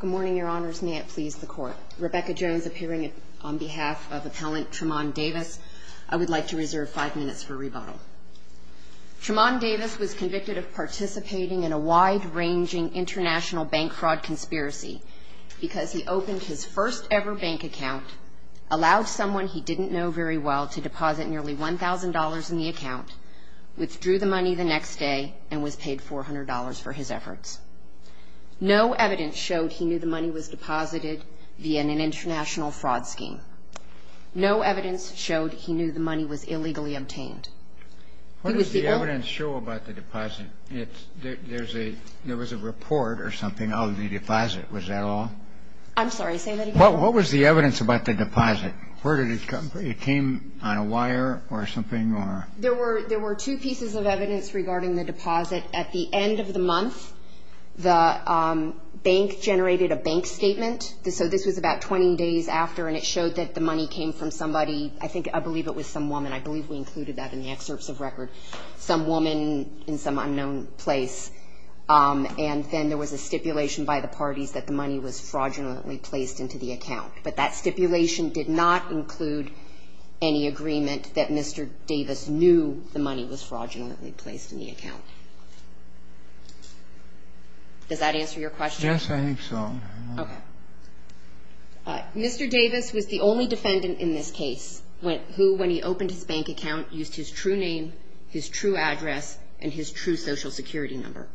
Good morning, your honors. May it please the court. Rebecca Jones appearing on behalf of appellant Tramond Davis. I would like to reserve five minutes for rebuttal. Tramond Davis was convicted of participating in a wide-ranging international bank fraud conspiracy because he opened his first ever bank account, allowed someone he didn't know very well to deposit nearly $1,000 in the account, withdrew the money the next day, and was paid $400 for his efforts. No evidence showed he knew the money was deposited via an international fraud scheme. No evidence showed he knew the money was illegally obtained. What does the evidence show about the deposit? There was a report or something of the deposit, was that all? I'm sorry, say that again. What was the evidence about the deposit? It came on a wire or something? There were two pieces of the bank generated a bank statement. So this was about 20 days after and it showed that the money came from somebody. I think I believe it was some woman. I believe we included that in the excerpts of record. Some woman in some unknown place. And then there was a stipulation by the parties that the money was fraudulently placed into the account. But that stipulation did not include any agreement that Mr. Davis knew the money was fraudulently placed in the account. Does that answer your question? Yes, I think so. Okay. Mr. Davis was the only defendant in this case who, when he opened his bank account, used his true name, his true address, and his true social security number.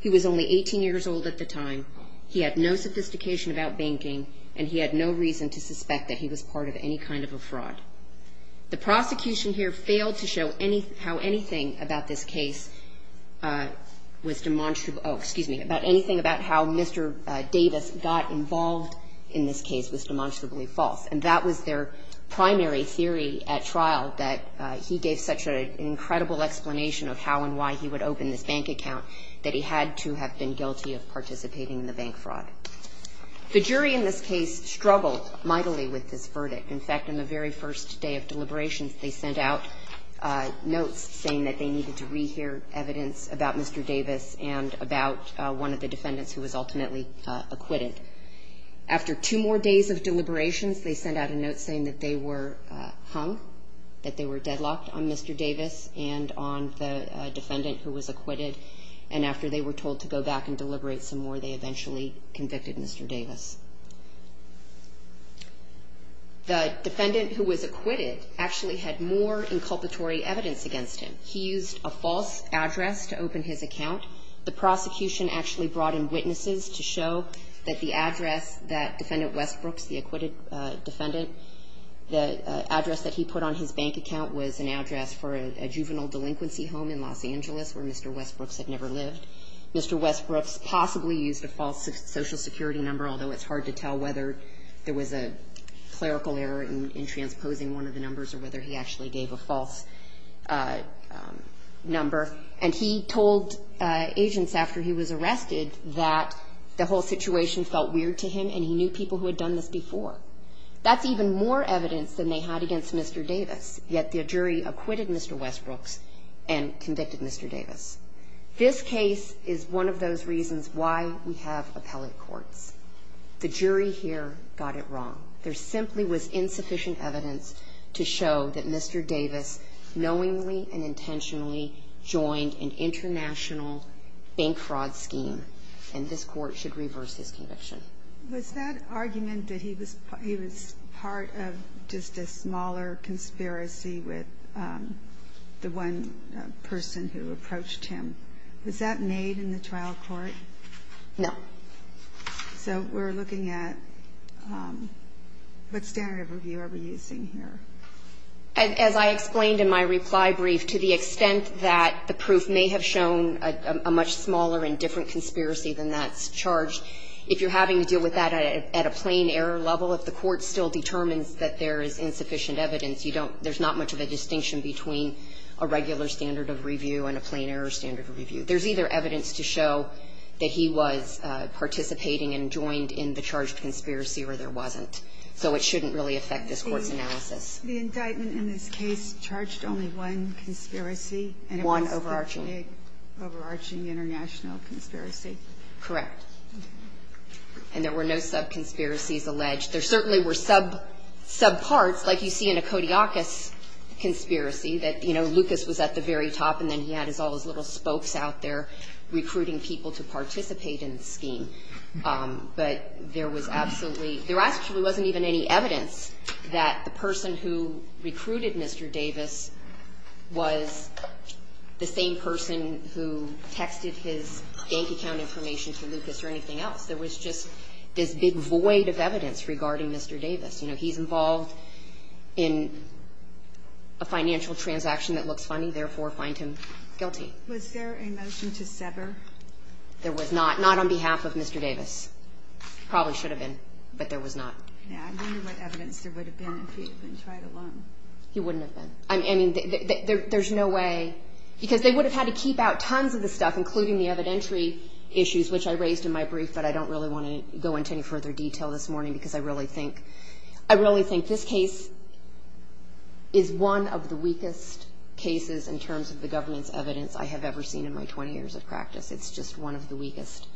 He was only 18 years old at the time. He had no sophistication about banking and he had no reason to suspect that he was part of any kind of a fraud. The prosecution here failed to show how anything about this case was demonstrably, oh, excuse me, about anything about how Mr. Davis got involved in this case was demonstrably false. And that was their primary theory at trial, that he gave such an incredible explanation of how and why he would open this bank account that he had to have been guilty of participating in the bank fraud. The jury in this case struggled mightily with this verdict. In fact, in the very first day of deliberations, they sent out notes saying that they needed to rehear evidence about Mr. Davis and about one of the defendants who was ultimately acquitted. After two more days of deliberations, they sent out a note saying that they were hung, that they were deadlocked on Mr. Davis and on the defendant who was acquitted. And after they were told to go back and deliberate some more, they eventually convicted Mr. Davis. The defendant who was acquitted actually had more inculpatory evidence against him. He used a false address to open his account. The prosecution actually brought in witnesses to show that the address that Defendant Westbrooks, the acquitted defendant, the address that he put on his bank account was an address for a juvenile delinquency home in Los Angeles where Mr. Westbrooks had never lived. Mr. Westbrooks possibly used a false Social Security number, although it's hard to tell whether there was a clerical error in transposing one of the numbers or whether he actually gave a false number. And he told agents after he was arrested that the whole situation felt weird to him and he knew people who had done this before. That's even more evidence than they had against Mr. Davis, yet the jury acquitted Mr. Westbrooks and convicted Mr. Davis. This case is one of those reasons why we have appellate courts. The jury here got it wrong. There simply was insufficient evidence to show that Mr. Davis knowingly and intentionally joined an international bank fraud scheme, and this court should reverse his conviction. Was that argument that he was part of just a smaller conspiracy with the one person who approached him, was that made in the trial court? No. So we're looking at what standard of review are we using here? As I explained in my reply brief, to the extent that the proof may have shown a much smaller and different conspiracy than that's charged, if you're having to deal with that at a plain error level, if the court still determines that there is insufficient evidence, you don't – there's not much of a distinction between a regular standard of review and a plain error standard of review. There's either evidence to show that he was participating and joined in the charged conspiracy or there wasn't. So it shouldn't really affect this Court's analysis. The indictment in this case charged only one conspiracy. One overarching. And it was the big, overarching international conspiracy. Correct. And there were no sub-conspiracies alleged. There certainly were sub – sub parts, like you see in a Kodiakos conspiracy, that, you know, Lucas was at the very top and then he had all his little spokes out there recruiting people to participate in the scheme. But there was absolutely – there actually wasn't even any evidence that the person who recruited Mr. Davis was the same person who texted his bank account information to Lucas or anything else. There was just this big void of evidence regarding Mr. Davis. You know, he's involved in a financial transaction that looks funny, therefore find him guilty. Was there a motion to sever? There was not. Not on behalf of Mr. Davis. Probably should have been, but there was not. Yeah, I wonder what evidence there would have been if he had been tried alone. He wouldn't have been. I mean, there's no way – because they would have had to keep out tons of the stuff, including the evidentiary issues, which I raised in my brief, but I don't really want to go into any further detail this morning, because I really think – I really think this case is one of the weakest cases in terms of the governance evidence I have ever seen in my 20 years of practice. It's just one of the weakest.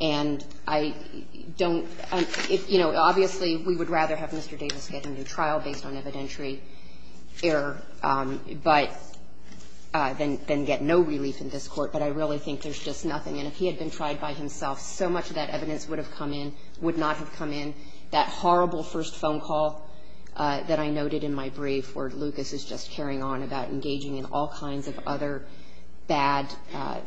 And I don't – you know, obviously, we would rather have Mr. Davis get into trial based on evidentiary error, but – than get no relief in this Court, but I really think there's just nothing. And if he had been tried by himself, so much of that evidence would have come in – would not have come in. That horrible first phone call that I noted in my brief where Lucas is just carrying on about engaging in all kinds of other bad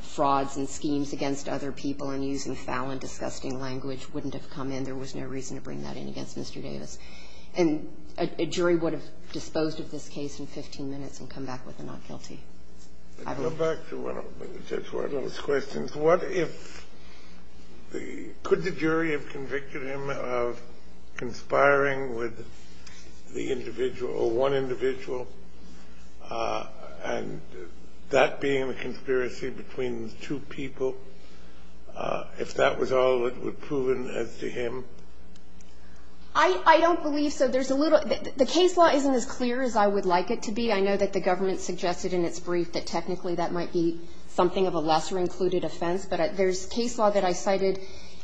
frauds and schemes against other people and using foul and disgusting language wouldn't have come in. There was no reason to bring that in against Mr. Davis. And a jury would have disposed of this case in 15 minutes and come back with a not guilty. I don't – Go back to one of Judge Wardlow's questions. What if the – could the jury have convicted him of conspiring with the individual or one individual, and that being a conspiracy between two people, if that was all that would have proven as to him? I don't believe so. There's a little – the case law isn't as clear as I would like it to be. I know that the government suggested in its brief that technically that might be something of a lesser included offense. But there's case law that I cited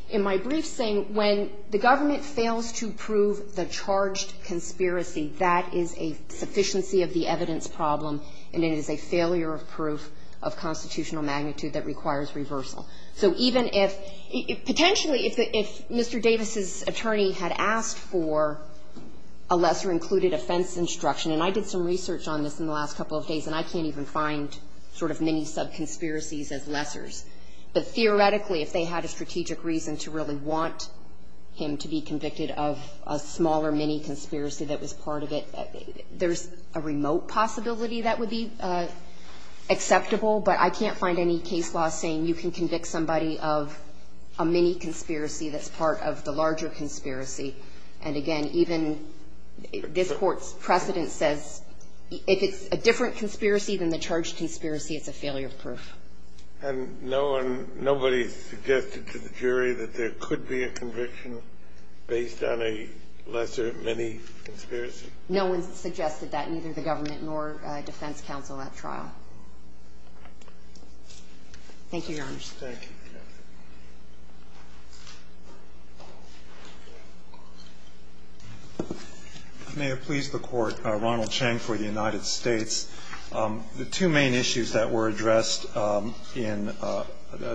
in my brief saying when the government fails to prove the charged conspiracy, that is a sufficiency of the evidence problem and it is a failure of proof of constitutional magnitude that requires reversal. So even if – potentially if Mr. Davis' attorney had asked for a lesser included offense instruction, and I did some research on this in the last couple of days and I can't even find sort of many sub-conspiracies as lessers, but theoretically if they had a strategic reason to really want him to be convicted of a smaller mini-conspiracy that was part of it, there's a remote possibility that would be acceptable, but I can't find any case law saying you can convict somebody of a mini-conspiracy that's part of the larger conspiracy. And again, even this Court's precedent says if it's a different conspiracy than the charged conspiracy, it's a failure of proof. And no one – nobody suggested to the jury that there could be a conviction based on a lesser mini-conspiracy? No one suggested that, neither the government nor defense counsel at trial. Thank you, Your Honor. Thank you. May it please the Court, Ronald Chang for the United States. The two main issues that were addressed in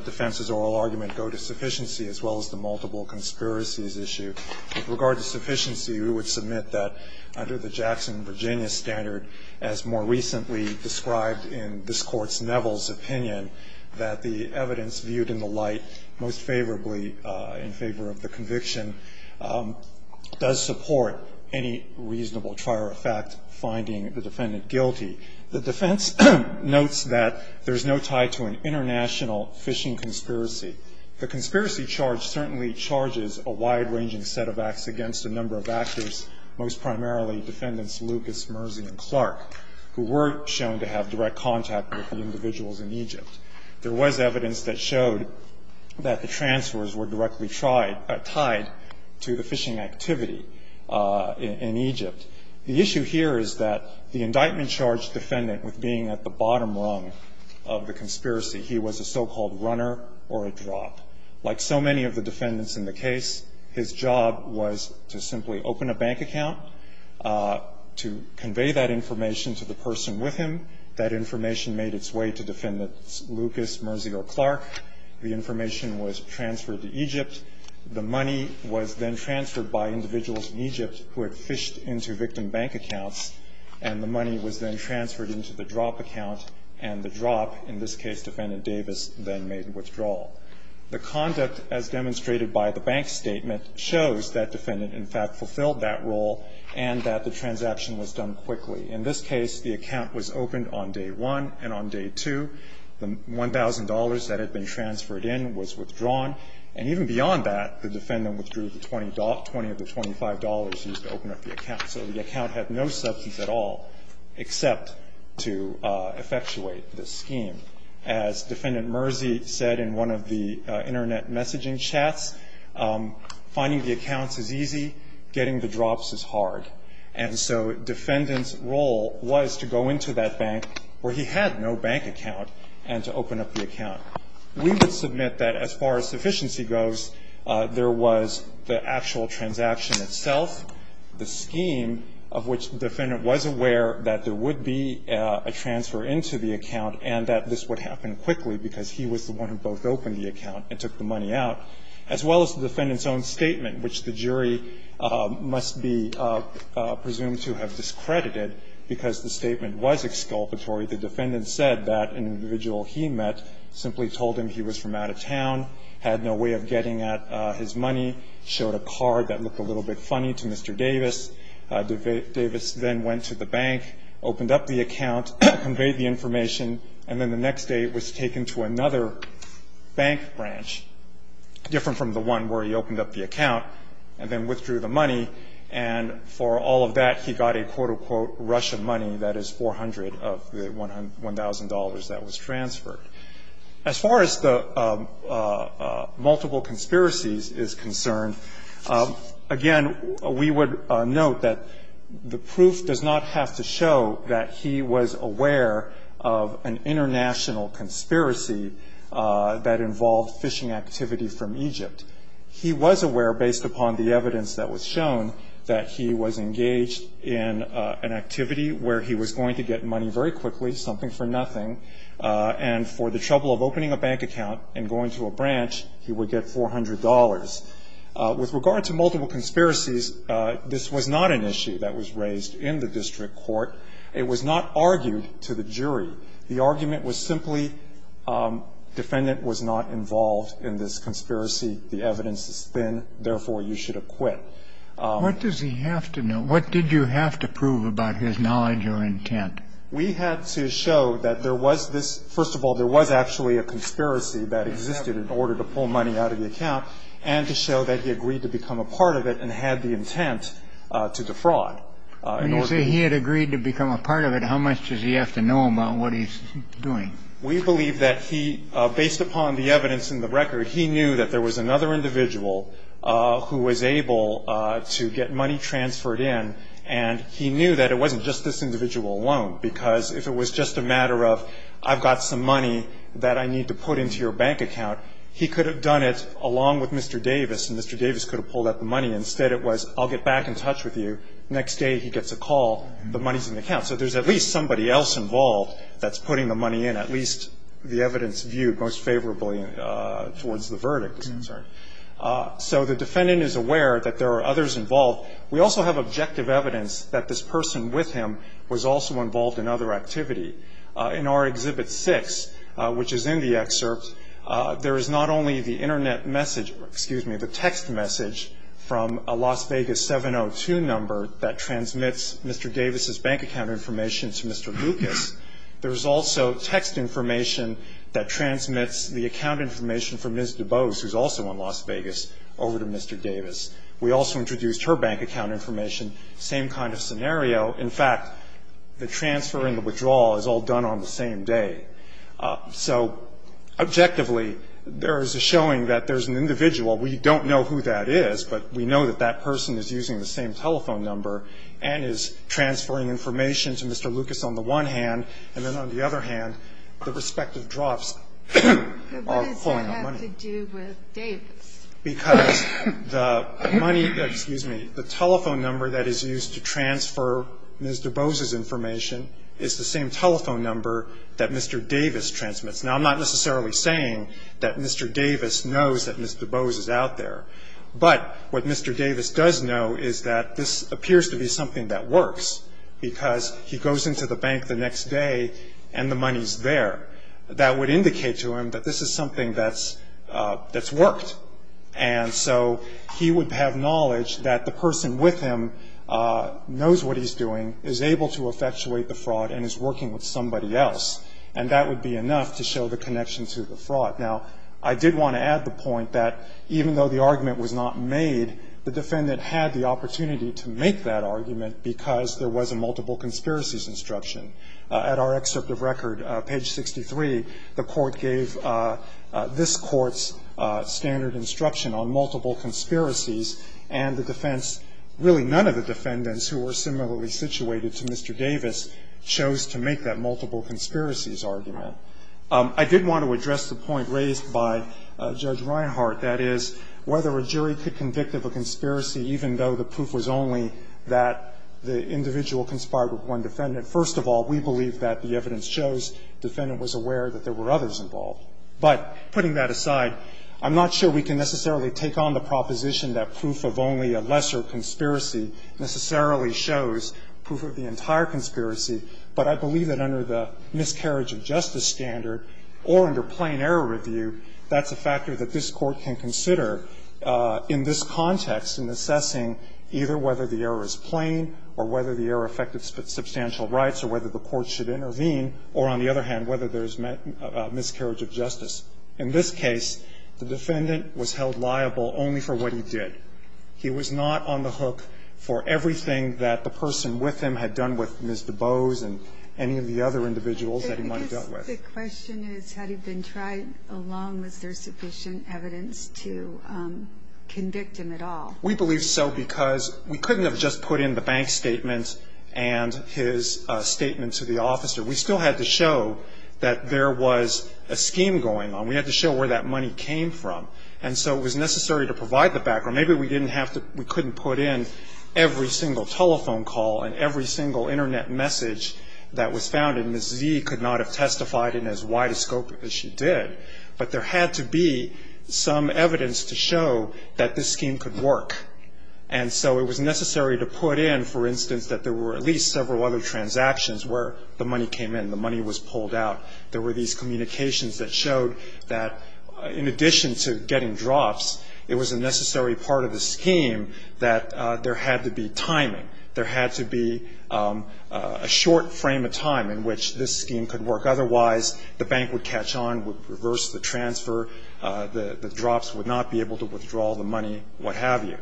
defense's oral argument go to sufficiency as well as the multiple conspiracies issue. With regard to sufficiency, we would submit that under the Jackson-Virginia standard, as more recently described in this Court's Neville's opinion, that the evidence viewed in the light most favorably in favor of the conviction does support any reasonable trier of fact finding the defendant guilty. The defense notes that there's no tie to an international phishing conspiracy. The conspiracy charge certainly charges a wide-ranging set of acts against a number of actors, most primarily defendants Lucas, Mersey, and Clark, who were shown to have direct contact with the individuals in Egypt. There was evidence that showed that the transfers were directly tied to the phishing activity in Egypt. The issue here is that the indictment charged the defendant with being at the bottom rung of the conspiracy. He was a so-called runner or a drop. Like so many of the defendants in the case, his job was to simply open a bank account to convey that information to the person with him. That information made its way to defendants Lucas, Mersey, or Clark. The information was transferred to Egypt. The money was then transferred by individuals in Egypt who had phished into victim bank accounts, and the money was then transferred into the drop account, and the drop, in this case, defendant Davis, then made a withdrawal. The conduct, as demonstrated by the bank statement, shows that defendant, in fact, fulfilled that role and that the transaction was done quickly. In this case, the account was opened on day one, and on day two, the $1,000 that had been transferred in was withdrawn, and even beyond that, the defendant withdrew the $20 of the $25 used to open up the account. So the account had no substance at all except to effectuate the scheme. As defendant Mersey said in one of the Internet messaging chats, finding the accounts is easy, getting the drops is hard. And so defendant's role was to go into that bank where he had no bank account and to open up the account. We would submit that as far as sufficiency goes, there was the actual transaction itself, the scheme of which the defendant was aware that there would be a transfer into the account and that this would happen quickly because he was the one who both opened the account and took the money out, as well as the defendant's own statement, which the jury must be presumed to have discredited because the statement was exculpatory. The defendant said that an individual he met simply told him he was from out of town, had no way of getting at his money, showed a card that looked a little bit funny to Mr. Davis. Davis then went to the bank, opened up the account, conveyed the information, and then the next day it was taken to another bank branch, different from the one where he opened up the account, and then withdrew the money. And for all of that, he got a, quote, unquote, Russian money, that is 400 of the $1,000 that was transferred. As far as the multiple conspiracies is concerned, again, we would note that the proof does not have to show that he was aware of an international conspiracy that involved phishing activity from Egypt. He was aware, based upon the evidence that was shown, that he was engaged in an activity where he was going to get money very quickly, something for nothing, and for the trouble of opening a bank account and going to a branch, he would get $400. With regard to multiple conspiracies, this was not an issue that was raised in the district court. It was not argued to the jury. The argument was simply defendant was not involved in this conspiracy. The evidence is thin. Therefore, you should acquit. What does he have to know? What did you have to prove about his knowledge or intent? We had to show that there was this, first of all, there was actually a conspiracy that existed in order to pull money out of the account, and to show that he agreed to become a part of it and had the intent to defraud. When you say he had agreed to become a part of it, how much does he have to know about what he's doing? We believe that he, based upon the evidence in the record, he knew that there was another individual who was able to get money transferred in, and he knew that it wasn't just this individual alone, because if it was just a matter of, I've got some money that I need to put into your bank account, he could have done it along with Mr. Davis, and Mr. Davis could have pulled out the money. Instead, it was, I'll get back in touch with you. Next day, he gets a call. The money's in the account. So there's at least somebody else involved that's putting the money in, at least the evidence viewed most favorably towards the verdict is concerned. So the defendant is aware that there are others involved. We also have objective evidence that this person with him was also involved in other activity. In our Exhibit 6, which is in the excerpt, there is not only the Internet message, excuse me, the text message from a Las Vegas 702 number that transmits Mr. Davis' bank account information to Mr. Lucas. There's also text information that transmits the account information from Ms. DuBose, who's also in Las Vegas, over to Mr. Davis. We also introduced her bank account information, same kind of scenario. In fact, the transfer and the withdrawal is all done on the same day. So objectively, there is a showing that there's an individual. We don't know who that is, but we know that that person is using the same telephone number and is transferring information to Mr. Lucas on the one hand, and then on the other hand, the respective drops are flowing on money. But what does that have to do with Davis? Because the money, excuse me, the telephone number that is used to transfer Ms. DuBose's information is the same telephone number that Mr. Davis transmits. Now, I'm not necessarily saying that Mr. Davis knows that Ms. DuBose is out there, but what Mr. Davis does know is that this appears to be something that works, because he goes into the bank the next day and the money's there. That would indicate to him that this is something that's worked. And so he would have knowledge that the person with him knows what he's doing, is able to effectuate the fraud, and is working with somebody else. And that would be enough to show the connection to the fraud. Now, I did want to add the point that even though the argument was not made, the defendant had the opportunity to make that argument because there was a multiple conspiracies instruction. At our excerpt of record, page 63, the court gave this court's standard instruction on multiple conspiracies, and the defense, really none of the defendants who were similarly situated to Mr. Davis, chose to make that multiple conspiracies argument. I did want to address the point raised by Judge Reinhart, that is, whether a jury could convict of a conspiracy even though the proof was only that the individual conspired with one defendant. First of all, we believe that the evidence shows the defendant was aware that there were others involved. But putting that aside, I'm not sure we can necessarily take on the proposition that proof of only a lesser conspiracy necessarily shows proof of the entire conspiracy. But I believe that under the miscarriage of justice standard or under plain error review, that's a factor that this court can consider in this context in assessing either whether the error is plain or whether the error affected substantial rights or whether the court should intervene, or on the other hand, whether there's miscarriage of justice. In this case, the defendant was held liable only for what he did. He was not on the hook for everything that the person with him had done with Ms. DuBose and any of the other individuals that he might have dealt with. I guess the question is, had he been tried alone? Was there sufficient evidence to convict him at all? We believe so because we couldn't have just put in the bank statement and his statement to the officer. We still had to show that there was a scheme going on. We had to show where that money came from. And so it was necessary to provide the background. Maybe we couldn't put in every single telephone call and every single internet message that was found, and Ms. Z could not have testified in as wide a scope as she did, but there had to be some evidence to show that this scheme could work. And so it was necessary to put in, for instance, that there were at least several other transactions where the money came in, the money was pulled out. There were these communications that showed that in addition to getting drops, it was a necessary part of the scheme that there had to be timing. There had to be a short frame of time in which this scheme could work. Otherwise, the bank would catch on, would reverse the transfer, the drops would not be able to withdraw the money, what have you.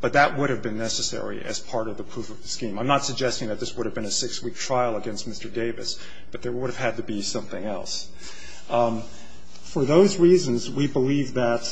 But that would have been necessary as part of the proof of the scheme. I'm not suggesting that this would have been a six-week trial against Mr. Davis, but there would have had to be something else. For those reasons, we believe that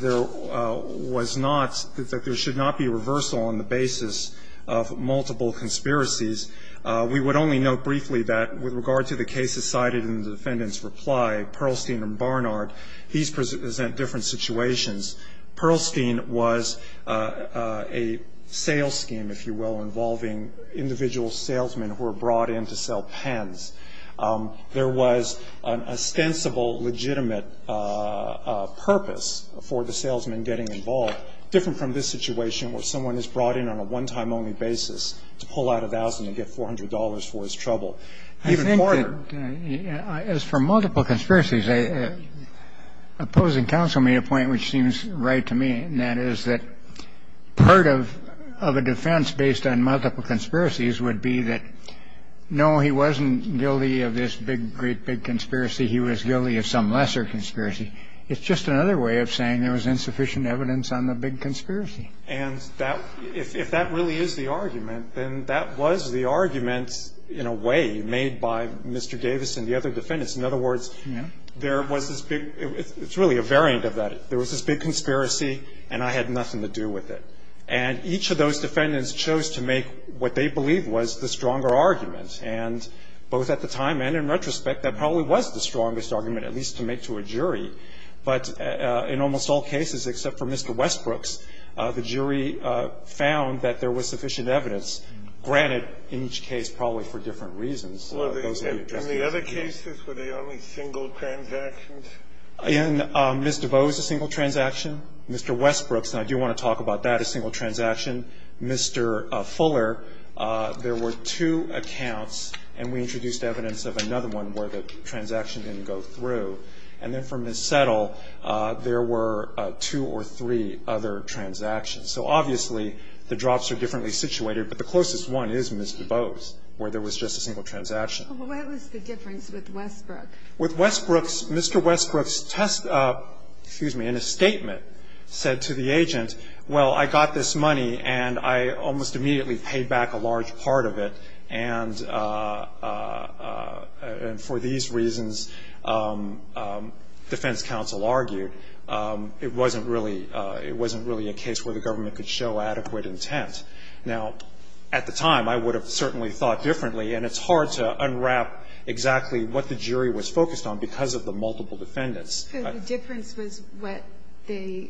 there was not, that there should not be reversal on the basis of multiple conspiracies. We would only note briefly that with regard to the cases cited in the defendant's reply, Pearlstein and Barnard, these present different situations. Pearlstein was a sales scheme, if you will, involving individual salesmen who were brought in to sell pens. There was an ostensible, legitimate purpose for the salesman getting involved, different from this situation where someone is brought in on a one-time only basis to pull out $1,000 and get $400 for his trouble. Even Barnard. I think that as for multiple conspiracies, opposing counsel made a point which seems right to me, and that is that part of a defense based on multiple conspiracies would be that, no, he wasn't guilty of this big, great big conspiracy. He was guilty of some lesser conspiracy. It's just another way of saying there was insufficient evidence on the big conspiracy. And that, if that really is the argument, then that was the argument, in a way, made by Mr. Davis and the other defendants. In other words, there was this big, it's really a variant of that. There was this big conspiracy, and I had nothing to do with it. And each of those defendants chose to make what they believed was the stronger argument. And both at the time and in retrospect, that probably was the strongest argument, at least to make to a jury. But in almost all cases except for Mr. Westbrooks, the jury found that there was sufficient evidence. Granted, in each case probably for different reasons. In the other cases, were they only single transactions? In Ms. DeVos' single transaction, Mr. Westbrooks, and I do want to talk about that, a single transaction. Mr. Fuller, there were two accounts, and we introduced evidence of another one where the transaction didn't go through. And then for Ms. Settle, there were two or three other transactions. So obviously, the drops are differently situated. But the closest one is Ms. DeVos, where there was just a single transaction. What was the difference with Westbrooks? With Westbrooks, Mr. Westbrooks, excuse me, in a statement, said to the agent, well, I got this money, and I almost immediately paid back a large part of it. And for these reasons, defense counsel argued, it wasn't really a case where the government could show adequate intent. Now, at the time, I would have certainly thought differently, and it's hard to unwrap exactly what the jury was focused on because of the multiple defendants. The difference was the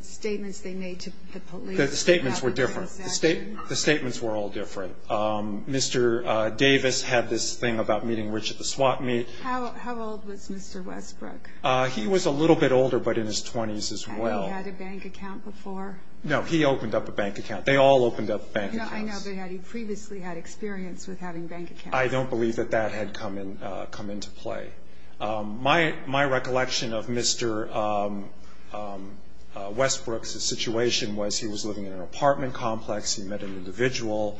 statements they made to the police. The statements were different. The statements were all different. Mr. Davis had this thing about meeting rich at the swap meet. How old was Mr. Westbrooks? He was a little bit older, but in his 20s as well. Had he had a bank account before? No, he opened up a bank account. They all opened up bank accounts. I know, but had he previously had experience with having bank accounts? I don't believe that that had come into play. My recollection of Mr. Westbrooks' situation was he was living in an apartment complex. He met an individual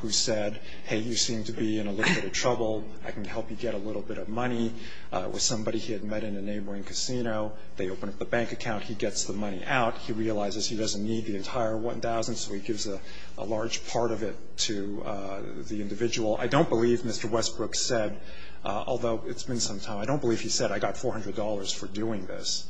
who said, hey, you seem to be in a little bit of trouble. I can help you get a little bit of money. It was somebody he had met in a neighboring casino. They opened up a bank account. He gets the money out. He realizes he doesn't need the entire 1,000, so he gives a large part of it to the individual. I don't believe Mr. Westbrooks said, although it's been some time, I don't believe he said, I got $400 for doing this.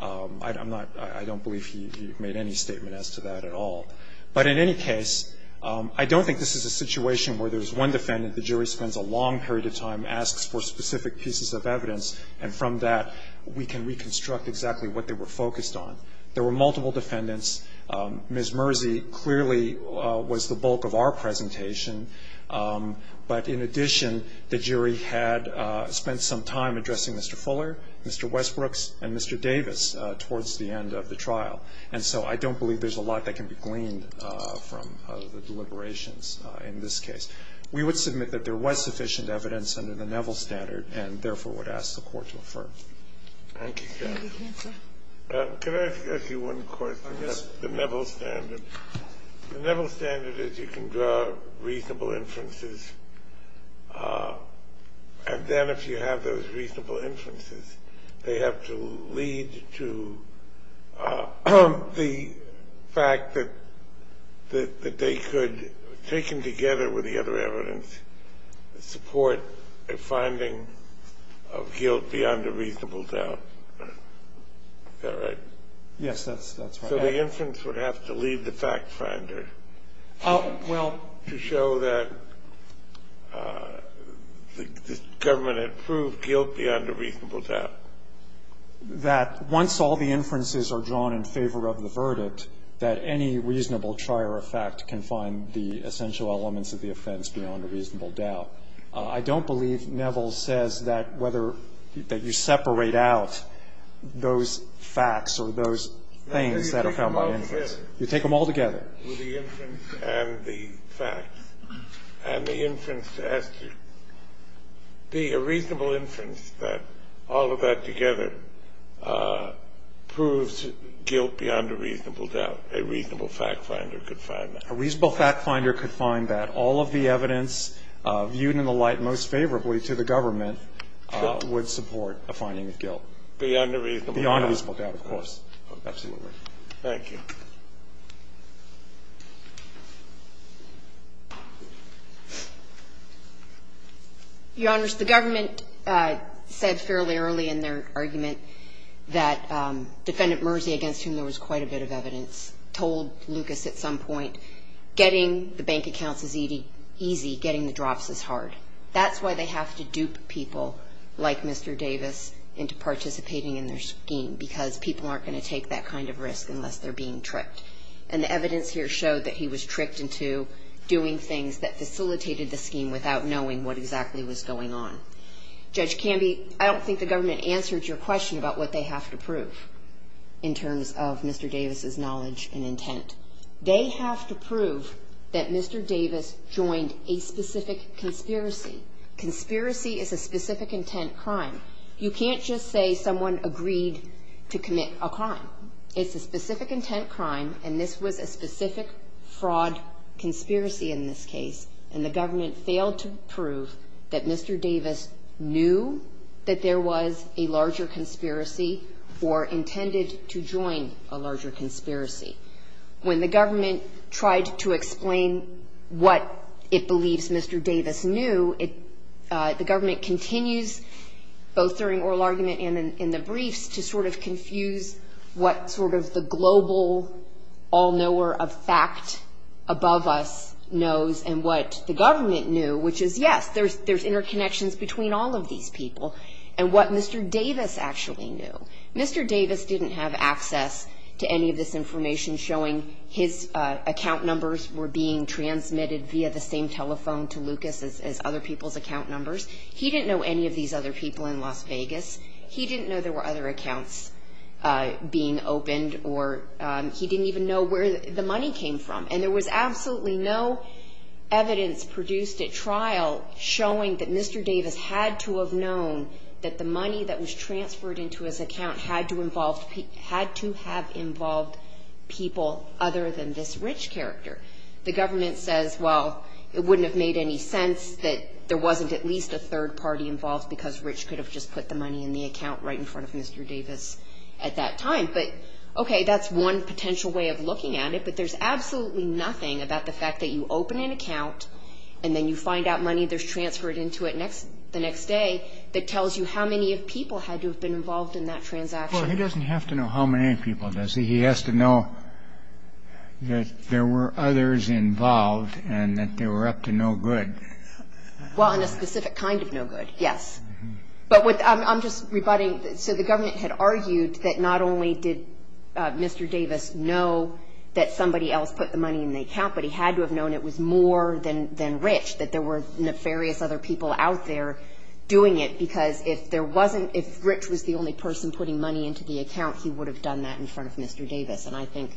I don't believe he made any statement as to that at all. But in any case, I don't think this is a situation where there's one defendant, the jury spends a long period of time, asks for specific pieces of evidence, and from that we can reconstruct exactly what they were focused on. There were multiple defendants. Ms. Murzy clearly was the bulk of our presentation. But in addition, the jury had spent some time addressing Mr. Fuller, Mr. Westbrooks, and Mr. Davis towards the end of the trial. And so I don't believe there's a lot that can be gleaned from the deliberations in this case. We would submit that there was sufficient evidence under the Neville standard and therefore would ask the Court to affirm. Thank you, Judge. Can I ask you one question? Yes. The Neville standard. The Neville standard is you can draw reasonable inferences, and then if you have those reasonable inferences, they have to lead to the fact that they could, taken together with the other evidence, support a finding of guilt beyond a reasonable doubt. Is that right? Yes, that's right. So the inference would have to lead the fact finder to show that the government had proved guilt beyond a reasonable doubt. That once all the inferences are drawn in favor of the verdict, that any reasonable trier of fact can find the essential elements of the offense beyond a reasonable doubt. I don't believe Neville says that whether you separate out those facts or those things that are found by inference. You take them all together. With the inference and the facts. And the inference has to be a reasonable inference that all of that together proves guilt beyond a reasonable doubt. A reasonable fact finder could find that. A reasonable fact finder could find that all of the evidence viewed in the light most favorably to the government would support a finding of guilt. Beyond a reasonable doubt. Beyond a reasonable doubt, of course. Absolutely. Thank you. Your Honors, the government said fairly early in their argument that Defendant Mersey, against whom there was quite a bit of evidence, told Lucas at some point getting the bank accounts is easy, getting the drafts is hard. That's why they have to dupe people like Mr. Davis into participating in their scheme, because people aren't going to take that kind of risk unless they're being tricked. And the evidence here showed that he was tricked into doing things that facilitated the scheme without knowing what exactly was going on. Judge Canby, I don't think the government answered your question about what they have to prove in terms of Mr. Davis' knowledge and intent. They have to prove that Mr. Davis joined a specific conspiracy. Conspiracy is a specific intent crime. You can't just say someone agreed to commit a crime. It's a specific intent crime, and this was a specific fraud conspiracy in this case, and the government failed to prove that Mr. Davis knew that there was a larger conspiracy or intended to join a larger conspiracy. When the government tried to explain what it believes Mr. Davis knew, the government continues, both during oral argument and in the briefs, to sort of confuse what sort of the global all-knower of fact above us knows and what the government knew, which is, yes, there's interconnections between all of these people, and what Mr. Davis actually knew. Mr. Davis didn't have access to any of this information showing his account numbers were being transmitted via the same telephone to Lucas as other people's account numbers. He didn't know any of these other people in Las Vegas. He didn't know there were other accounts being opened, or he didn't even know where the money came from, and there was absolutely no evidence produced at trial showing that Mr. Davis had to have known that the money that was transferred into his account had to have involved people other than this Rich character. The government says, well, it wouldn't have made any sense that there wasn't at least a third party involved because Rich could have just put the money in the account right in front of Mr. Davis at that time. But, okay, that's one potential way of looking at it, but there's absolutely nothing about the fact that you open an account and then you find out money that's transferred into it the next day that tells you how many of people had to have been involved in that transaction. Well, he doesn't have to know how many people does he? He has to know that there were others involved and that they were up to no good. Well, in a specific kind of no good, yes. But I'm just rebutting. So the government had argued that not only did Mr. Davis know that somebody else put the money in the account, but he had to have known it was more than Rich, that there were nefarious other people out there doing it because if there wasn't – if Rich was the only person putting money into the account, he would have done that in front of Mr. Davis. And I think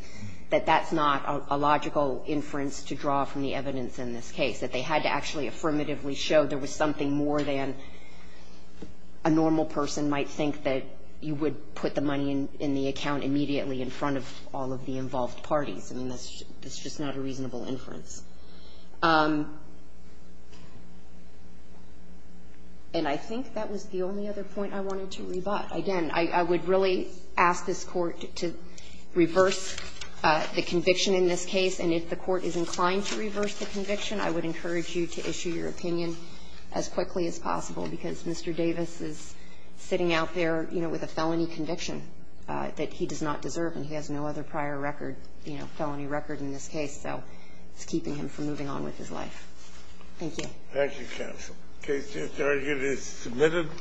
that that's not a logical inference to draw from the evidence in this case, that they had to actually affirmatively show there was something more than a normal person might think that you would put the money in the account immediately in front of all of the involved parties. I mean, that's just not a reasonable inference. And I think that was the only other point I wanted to rebut. Again, I would really ask this Court to reverse the conviction in this case, and if the Court is inclined to reverse the conviction, I would encourage you to issue your opinion as quickly as possible because Mr. Davis is sitting out there, you know, with a felony conviction that he does not deserve, and he has no other prior record, you know, felony record in this case. So it's keeping him from moving on with his life. Thank you. Thank you, Counsel. The case to the target is submitted.